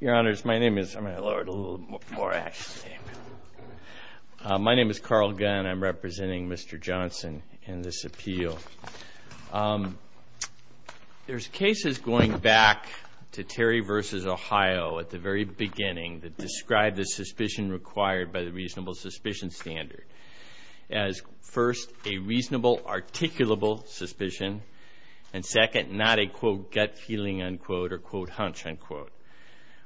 Your honors, my name is Carl Gunn. I'm representing Mr. Johnson in this appeal. There's cases going back to Terry v. Ohio at the very beginning that describe the suspicion required by the reasonable suspicion standard as first a reasonable articulable suspicion and second not a quote gut feeling unquote or quote hunch unquote.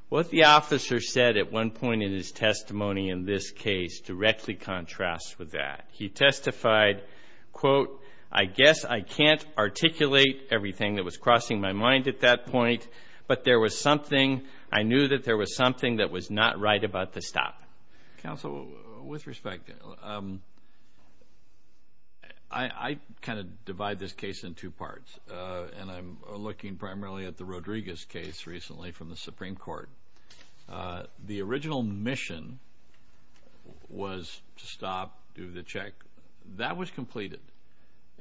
What the officer said at one point in his testimony in this case directly contrasts with that. He testified, quote, I guess I can't articulate everything that was crossing my mind at that point but there was something I knew that there was something that was not right about the stop. Counsel, with respect, I kind of divide this case in two parts and I'm looking primarily at the Rodriguez case recently from the Supreme Court. The original mission was to stop, do the check. That was completed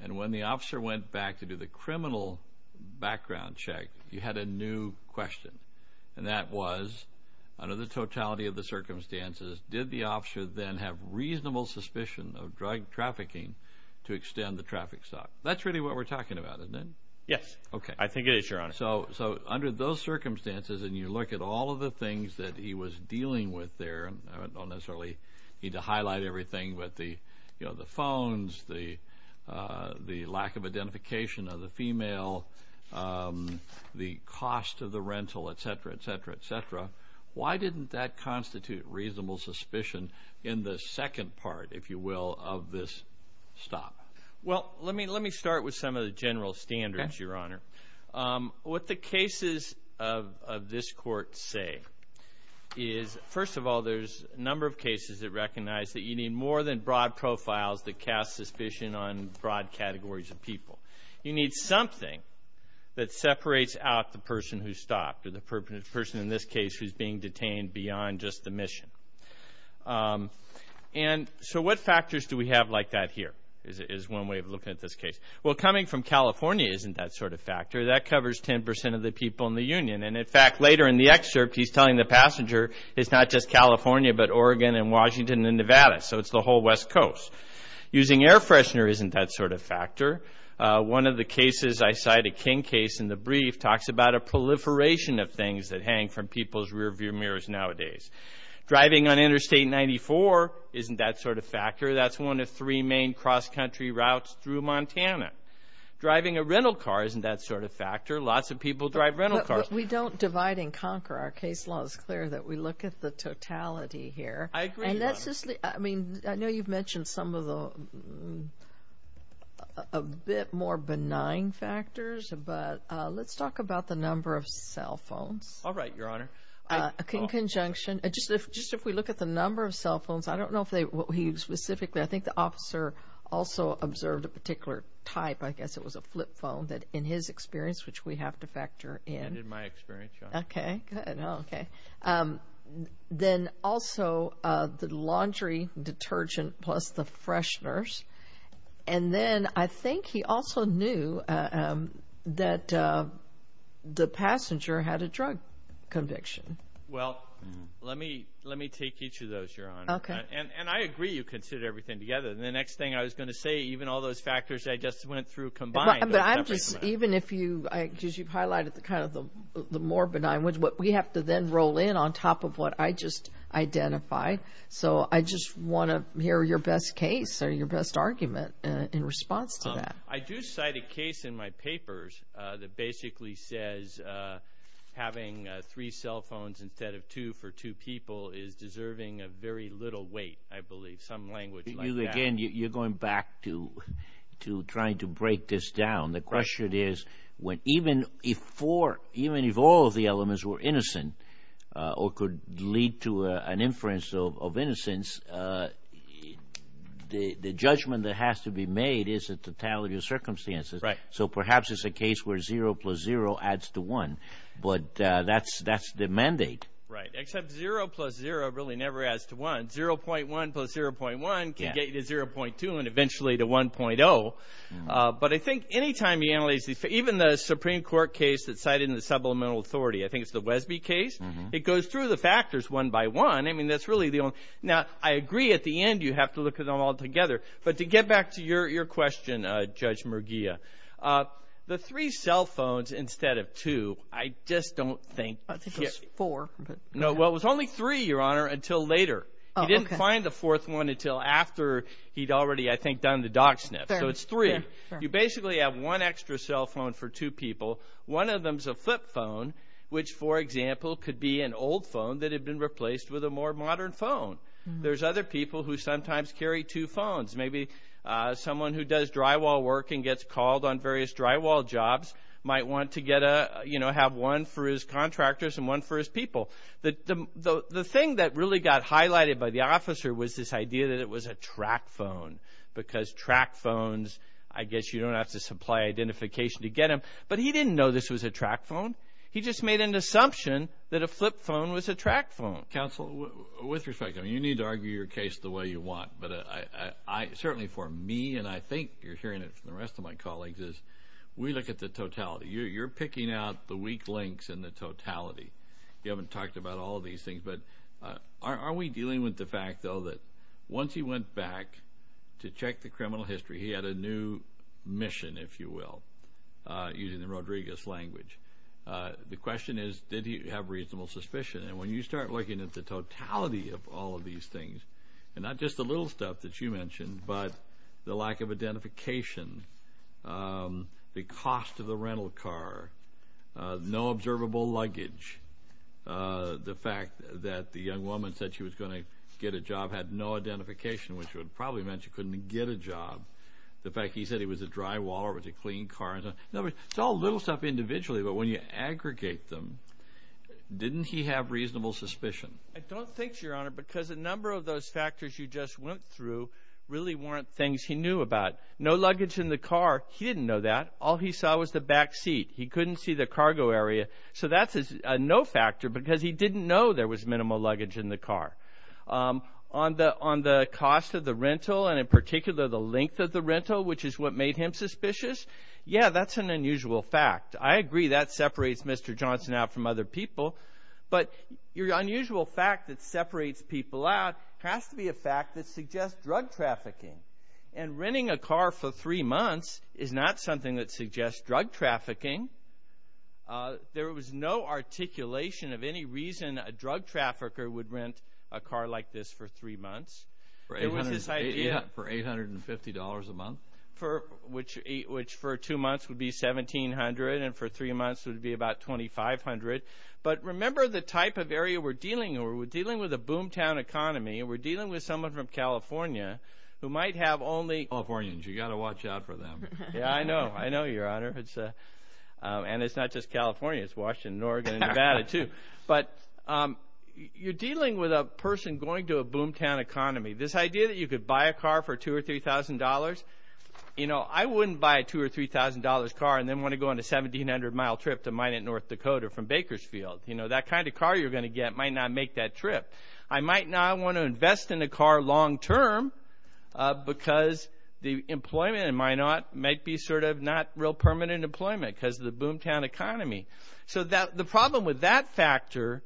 and when the officer went back to do the criminal background check you had a new question and that was under the totality of the circumstances did the officer then have reasonable suspicion of drug trafficking to extend the traffic stop. That's really what we're talking about, isn't it? Yes. Okay. I think it is, your honor. So under those circumstances and you look at all of the things that he was dealing with there, I don't necessarily need to highlight everything, but the, you know, the phones, the lack of identification of the female, the cost of the rental, etc. etc. etc. Why didn't that constitute reasonable suspicion in the second part, if you will, of this stop? Well, let me start with some of the general standards, your honor. What the cases of this court say is, first of all, there's a number of cases that recognize that you need more than broad profiles that cast suspicion on broad categories of people. You need something that separates out the person who stopped or the person in this case who's being detained beyond just the have like that here, is one way of looking at this case. Well, coming from California isn't that sort of factor. That covers 10% of the people in the Union. And in fact, later in the excerpt, he's telling the passenger it's not just California, but Oregon and Washington and Nevada. So it's the whole West Coast. Using air freshener isn't that sort of factor. One of the cases, I cite a King case in the brief, talks about a proliferation of things that hang from people's rearview mirrors nowadays. Driving on Interstate 94 isn't that sort of factor. That's one of three main cross-country routes through Montana. Driving a rental car isn't that sort of factor. Lots of people drive rental cars. We don't divide and conquer. Our case law is clear that we look at the totality here. I mean, I know you've mentioned some of the a bit more benign factors, but let's talk about the number of cell phones. All right, your honor. In conjunction, just if we look at the number of cell phones, I don't know if they, what he specifically, I think the officer also observed a particular type, I guess it was a flip phone, that in his experience, which we have to factor in. In my experience, your honor. Okay, good, okay. Then also the laundry detergent plus the fresheners. And then I think he also knew that the passenger had a drug conviction. Well, let me, let me take each of those, your honor. Okay. And I agree you consider everything together. And the next thing I was going to say, even all those factors I just went through combined. But I'm just, even if you, because you've highlighted the kind of the more benign ones, but we have to then roll in on top of what I just identified. So I just want to hear your best case or your best argument in response to that. I do cite a case in my papers that basically says having three cell phones instead of two for two people is deserving of very little weight, I believe. Some language like that. You, again, you're going back to, to trying to break this down. The question is, when even if four, even if all of the elements were innocent or could lead to an inference of innocence, the judgment that has to be made is a totality of circumstances. Right. So perhaps it's a case where zero plus zero adds to one. But that's, that's the mandate. Right. Except zero plus zero really never adds to one. 0.1 plus 0.1 can get you to 0.2 and eventually to 1.0. But I think any time you analyze these, even the Supreme Court case that cited in the supplemental authority, I think it's the Wesby case. It goes through the factors one by one. I mean, that's really the only, now I agree at the end you have to look at them all together. But to get back to your, your question, Judge Merguia, the three cell phones instead of two, I just don't think. I think it was four. No, well, it was only three, Your Honor, until later. He didn't find the fourth one until after he'd already, I think, done the dog sniff. So it's three. You basically have one extra cell phone for two people. One of them's a flip phone, which, for example, could be an old phone that had been replaced with a more modern phone. There's other people who sometimes carry two phones. Maybe someone who does drywall work and gets called on various drywall jobs might want to get a, you know, have one for his contractors and one for his people. The thing that really got highlighted by the officer was this idea that it was a track phone because track phones, I guess you don't have to supply identification to get them. But he didn't know this was a track phone. He just made an assumption that a flip phone was a track phone. Counsel, with respect, you need to argue your case the way you want, but I certainly, for me, and I think you're hearing it from the rest of my colleagues, is we look at the totality. You're picking out the weak links in the totality. You haven't talked about all these things, but are we dealing with the fact, though, that once he went back to check the criminal history, he had a new mission, if you will, using the Rodriguez language. The question is, did he have reasonable suspicion? And when you start looking at the totality of all of these things, and not just the little stuff that you mentioned, but the lack of identification, the cost of the rental car, no observable luggage, the fact that the young woman said she was going to get a job had no identification, which would probably meant she couldn't get a job. The fact he said he was a drywaller with a clean car. It's all little stuff individually, but when you aggregate them, didn't he have reasonable suspicion? I don't think so, Your Honor, because a number of those factors you just went through really weren't things he knew about. No luggage in the car, he didn't know that. All he saw was the back seat. He couldn't see the cargo area. So that's a no factor, because he didn't know there was minimal luggage in the car. On the cost of the rental, and in particular the length of the rental, which is what made him suspicious, yeah, that's an unusual fact. I agree, that unusual fact that separates people out has to be a fact that suggests drug trafficking, and renting a car for three months is not something that suggests drug trafficking. There was no articulation of any reason a drug trafficker would rent a car like this for three months. For $850 a month? Which for two months would be $1,700, and for three months would be about $2,500. But remember the type of area we're dealing with. We're dealing with a boomtown economy, and we're dealing with someone from California who might have only... Californians, you got to watch out for them. Yeah, I know, I know Your Honor. And it's not just California, it's Washington, Oregon, and Nevada too. But you're dealing with a person going to a boomtown economy. This idea that you could buy a car for two or three thousand dollars, you know, I wouldn't buy a two or three thousand dollars car and then want to go on a 1,700 mile trip to Minot, North Dakota from Bakersfield. You know, that kind of car you're going to get might not make that trip. I might not want to invest in a car long term because the employment in Minot might be sort of not real permanent employment because of the boomtown economy. So the problem with that factor,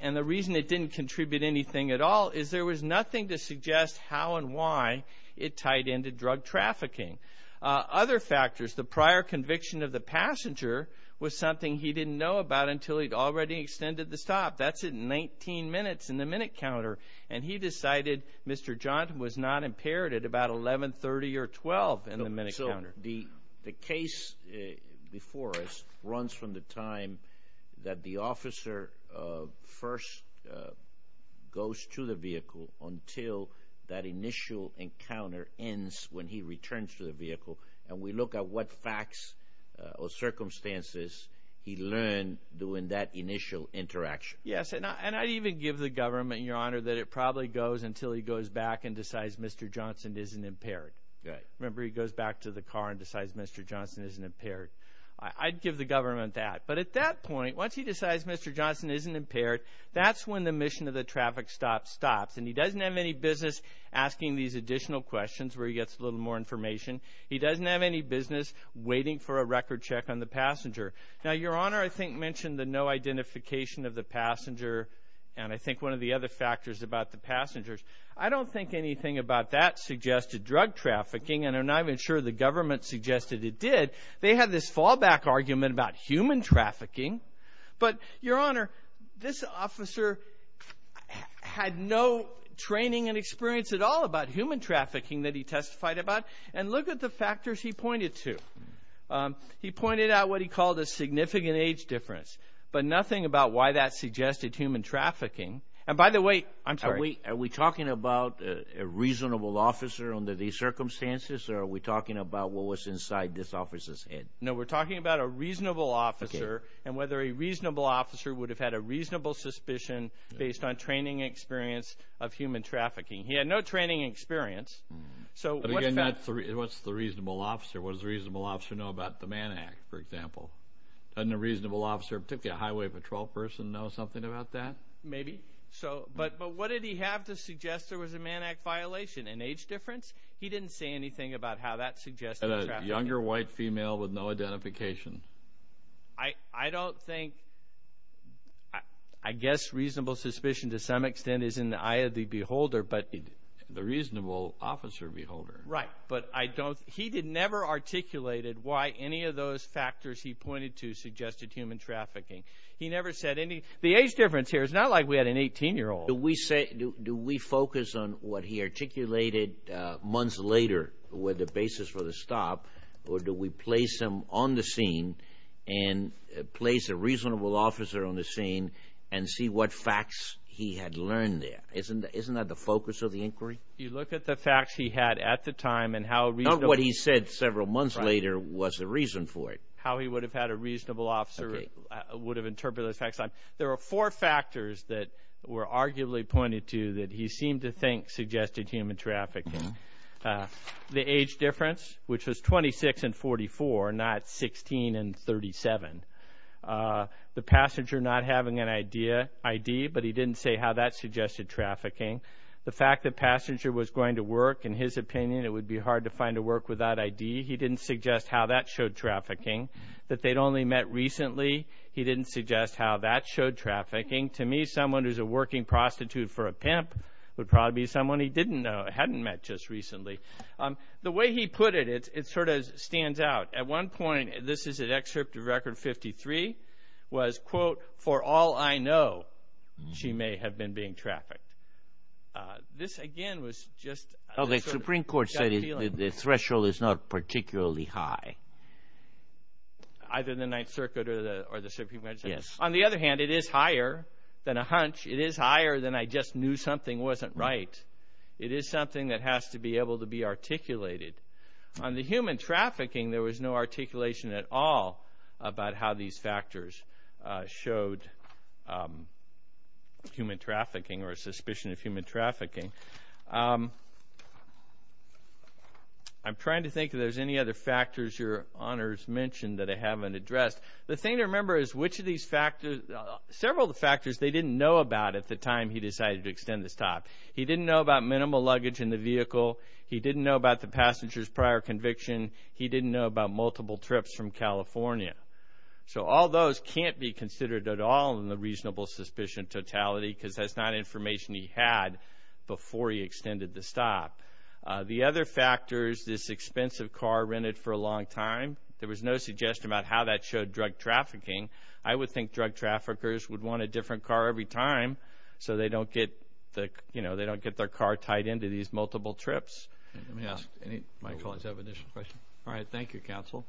and the reason it didn't contribute anything at all, is there was nothing to suggest how and why it tied into drug trafficking. Other factors, the prior conviction of the passenger was something he didn't know about until he'd already extended the stop. That's in 19 minutes in the minute counter, and he decided Mr. Johnton was not impaired at about 11, 30, or 12 in the minute counter. The case before us runs from the time that the officer first goes to the vehicle until that initial encounter ends when he returns to the vehicle to look at what facts or circumstances he learned during that initial interaction. Yes, and I'd even give the government, your honor, that it probably goes until he goes back and decides Mr. Johnston isn't impaired. Remember, he goes back to the car and decides Mr. Johnston isn't impaired. I'd give the government that, but at that point, once he decides Mr. Johnston isn't impaired, that's when the mission of the traffic stop stops, and he doesn't have any business asking these additional questions where he gets a little more information. He doesn't have any business waiting for a record check on the passenger. Now, your honor, I think mentioned the no identification of the passenger, and I think one of the other factors about the passengers. I don't think anything about that suggested drug trafficking, and I'm not even sure the government suggested it did. They had this fallback argument about human trafficking, but your honor, this officer had no training and experience at all about human trafficking that he pointed to. He pointed out what he called a significant age difference, but nothing about why that suggested human trafficking, and by the way, I'm sorry. Are we talking about a reasonable officer under these circumstances, or are we talking about what was inside this officer's head? No, we're talking about a reasonable officer and whether a reasonable officer would have had a reasonable suspicion based on training experience of human trafficking. He had no training experience. So, what's the reasonable officer? What does the reasonable officer know about the Mann Act, for example? Doesn't a reasonable officer, particularly a highway patrol person, know something about that? Maybe, but what did he have to suggest there was a Mann Act violation? An age difference? He didn't say anything about how that suggested trafficking. A younger white female with no identification. I don't think, I guess, reasonable suspicion to some extent is in the eye of the beholder, but... The reasonable officer beholder. Right, but he never articulated why any of those factors he pointed to suggested human trafficking. He never said anything. The age difference here is not like we had an 18-year-old. Do we focus on what he articulated months later with the basis for the stop, or do we place him on the scene and see what facts he had learned there? Isn't that the focus of the inquiry? You look at the facts he had at the time and how... Not what he said several months later was the reason for it. How he would have had a reasonable officer would have interpreted those facts. There are four factors that were arguably pointed to that he seemed to think suggested human trafficking. The age having an ID, but he didn't say how that suggested trafficking. The fact that passenger was going to work, in his opinion, it would be hard to find a work without ID. He didn't suggest how that showed trafficking. That they'd only met recently. He didn't suggest how that showed trafficking. To me, someone who's a working prostitute for a pimp would probably be someone he didn't know, hadn't met just recently. The way he put it, it sort of stands out. At one point, this is at Excerpt of Record 53, was, quote, for all I know, she may have been being trafficked. This, again, was just... Oh, the Supreme Court said the threshold is not particularly high. Either the Ninth Circuit or the Supreme Court. Yes. On the other hand, it is higher than a hunch. It is higher than I just knew something wasn't right. It is something that has to be able to be articulated. On the human trafficking, there was no articulation at all about how these factors showed human trafficking or suspicion of human trafficking. I'm trying to think if there's any other factors your Honors mentioned that I haven't addressed. The thing to remember is which of these factors... several of the factors they didn't know about at the time he decided to extend this time. He didn't know about minimal luggage in the vehicle. He didn't know about the passenger's prior conviction. He didn't know about multiple trips from California. So all those can't be considered at all in the reasonable suspicion totality because that's not information he had before he extended the stop. The other factors... this expensive car rented for a long time. There was no suggestion about how that showed drug trafficking. I would think drug traffickers would want a different car every time so they don't get, you know, they don't get their car tied into these multiple trips. Let me ask, any of my colleagues have additional questions? All right. Thank you, Counsel.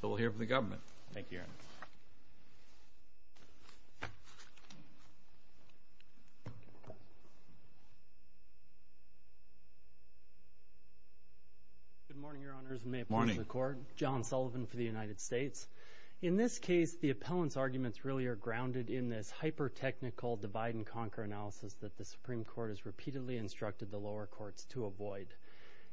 So we'll hear from the government. Thank you, Your Honors. Good morning, Your Honors, and may it please the Court. John Sullivan for the United States. In this case, the appellant's arguments really are grounded in this hyper-technical divide-and-conquer analysis that the Supreme Court has repeatedly instructed the lower courts to avoid.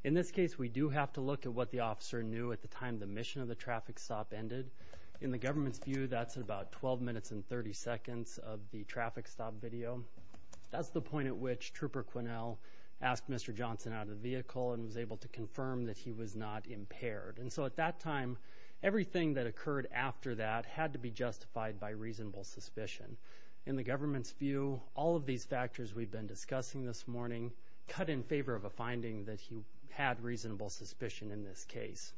In this case, we do have to look at what the officer knew at the time the mission of the traffic stop ended. In the government's view, that's about 12 minutes and 30 seconds of the traffic stop video. That's the point at which Trooper Quinnell asked Mr. Johnson out of the vehicle and was able to confirm that he was not impaired. And so at that time, everything that occurred after that had to be justified by reasonable suspicion. In the government's view, all of these factors we've been discussing this morning cut in favor of a finding that he had reasonable suspicion in this case.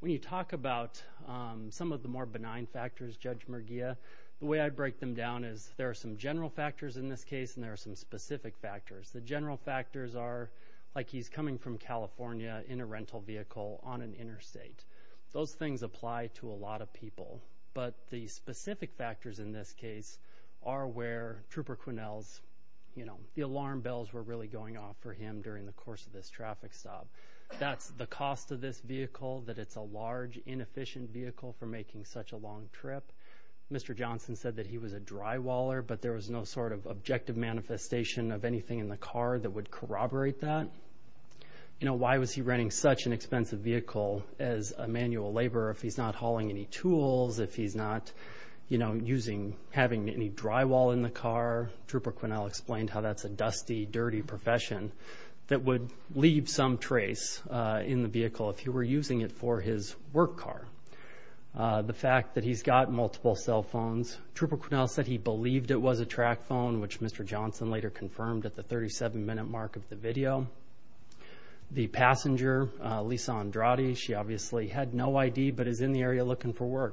When you talk about some of the more benign factors, Judge Merguia, the way I break them down is there are some general factors in this case and there are some specific factors. The general factors are, like he's coming from California in a rental vehicle on an interstate. Those things apply to a lot of people. But the specific factors in this case are where Trooper Quinnell's, you know, the alarm bells were really going off for him during the course of this traffic stop. That's the cost of this vehicle, that it's a large, inefficient vehicle for making such a long trip. Mr. Johnson said that he was a drywaller, but there was no sort of objective manifestation of anything in the car that would corroborate that. You know, why was he renting such an expensive vehicle as a manual laborer if he's not hauling any tools, if he's not, you know, having any drywall in the car? Trooper Quinnell explained how that's a dusty, dirty profession that would leave some trace in the vehicle if he were using it for his work car. The fact that he's got multiple cell phones, Trooper Quinnell said he believed it was a track phone, which Mr. Johnson later confirmed at the 37-minute mark of the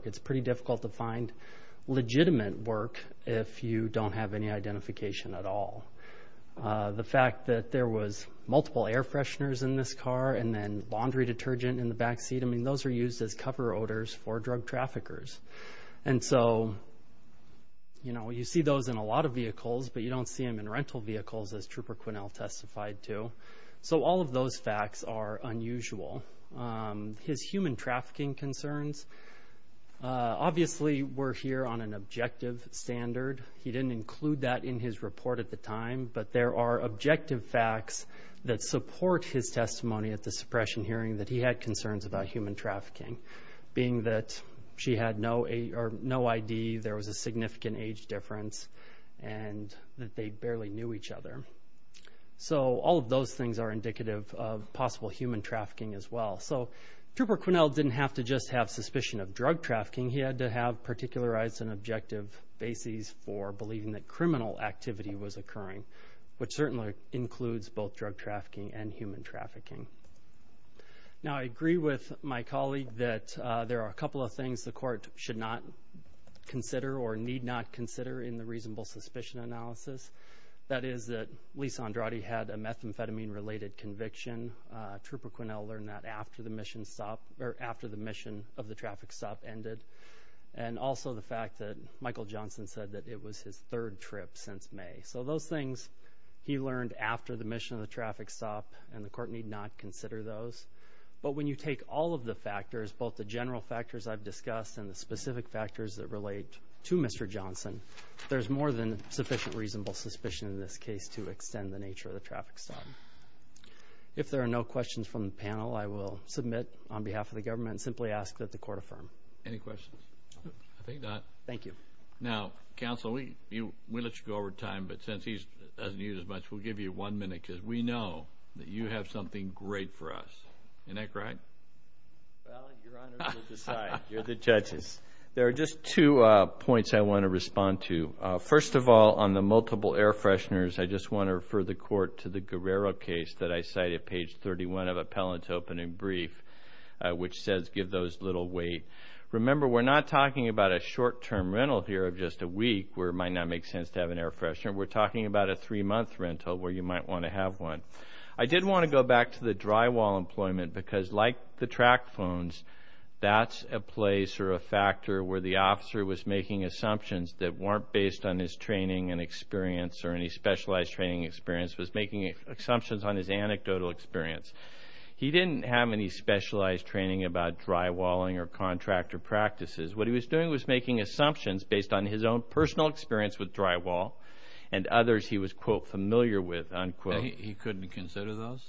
It's pretty difficult to find legitimate work if you don't have any identification at all. The fact that there was multiple air fresheners in this car and then laundry detergent in the back seat, I mean, those are used as cover odors for drug traffickers. And so, you know, you see those in a lot of vehicles, but you don't see them in rental vehicles, as Trooper Quinnell testified to. So all of those facts are unusual. His human trafficking concerns obviously were here on an objective standard. He didn't include that in his report at the time, but there are objective facts that support his testimony at the suppression hearing that he had concerns about human trafficking, being that she had no ID, there was a significant age difference, and that they barely knew each other. So all of those things are indicative of possible human trafficking. Now, in addition to the suspicion of drug trafficking, he had to have particularized and objective bases for believing that criminal activity was occurring, which certainly includes both drug trafficking and human trafficking. Now, I agree with my colleague that there are a couple of things the court should not consider or need not consider in the reasonable suspicion analysis. That is that Lisa Andrade had a methamphetamine-related conviction. Trooper Quinnell learned that after the mission of the traffic stop ended, and also the fact that Michael Johnson said that it was his third trip since May. So those things he learned after the mission of the traffic stop, and the court need not consider those. But when you take all of the factors, both the general factors I've discussed and the specific factors that relate to Mr. Johnson, there's more than sufficient reasonable suspicion in this case to extend the There are no questions from the panel. I will submit on behalf of the government and simply ask that the court affirm. Any questions? I think not. Thank you. Now, counsel, we let you go over time, but since he doesn't use as much, we'll give you one minute because we know that you have something great for us. Isn't that correct? Well, Your Honor, you decide. You're the judges. There are just two points I want to respond to. First of all, on the multiple air fresheners, I just want to refer the court to the opening brief, which says give those little wait. Remember, we're not talking about a short-term rental here of just a week where it might not make sense to have an air freshener. We're talking about a three-month rental where you might want to have one. I did want to go back to the drywall employment because, like the track phones, that's a place or a factor where the officer was making assumptions that weren't based on his training and experience or any specialized training experience, was making assumptions on his anecdotal experience. He didn't have any specialized training about drywalling or contractor practices. What he was doing was making assumptions based on his own personal experience with drywall and others he was, quote, familiar with, unquote. He couldn't consider those?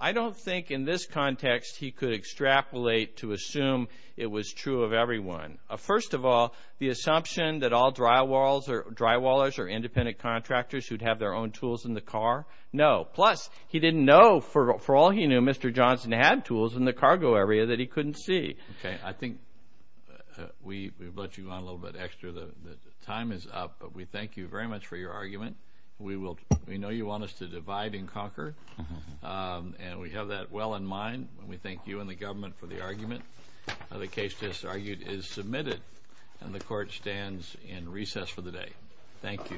I don't think in this context he could extrapolate to assume it was true of everyone. First of all, the assumption that all drywallers are independent contractors who'd have their own tools in the car, no. Plus, he didn't know, for all he knew, Mr. Johnson had tools in the cargo area that he couldn't see. Okay. I think we've let you on a little bit extra. The time is up, but we thank you very much for your argument. We know you want us to divide and conquer, and we have that well in mind. We thank you and the government for the argument. The case, as argued, is submitted, and the Court stands in recess for the day. Thank you.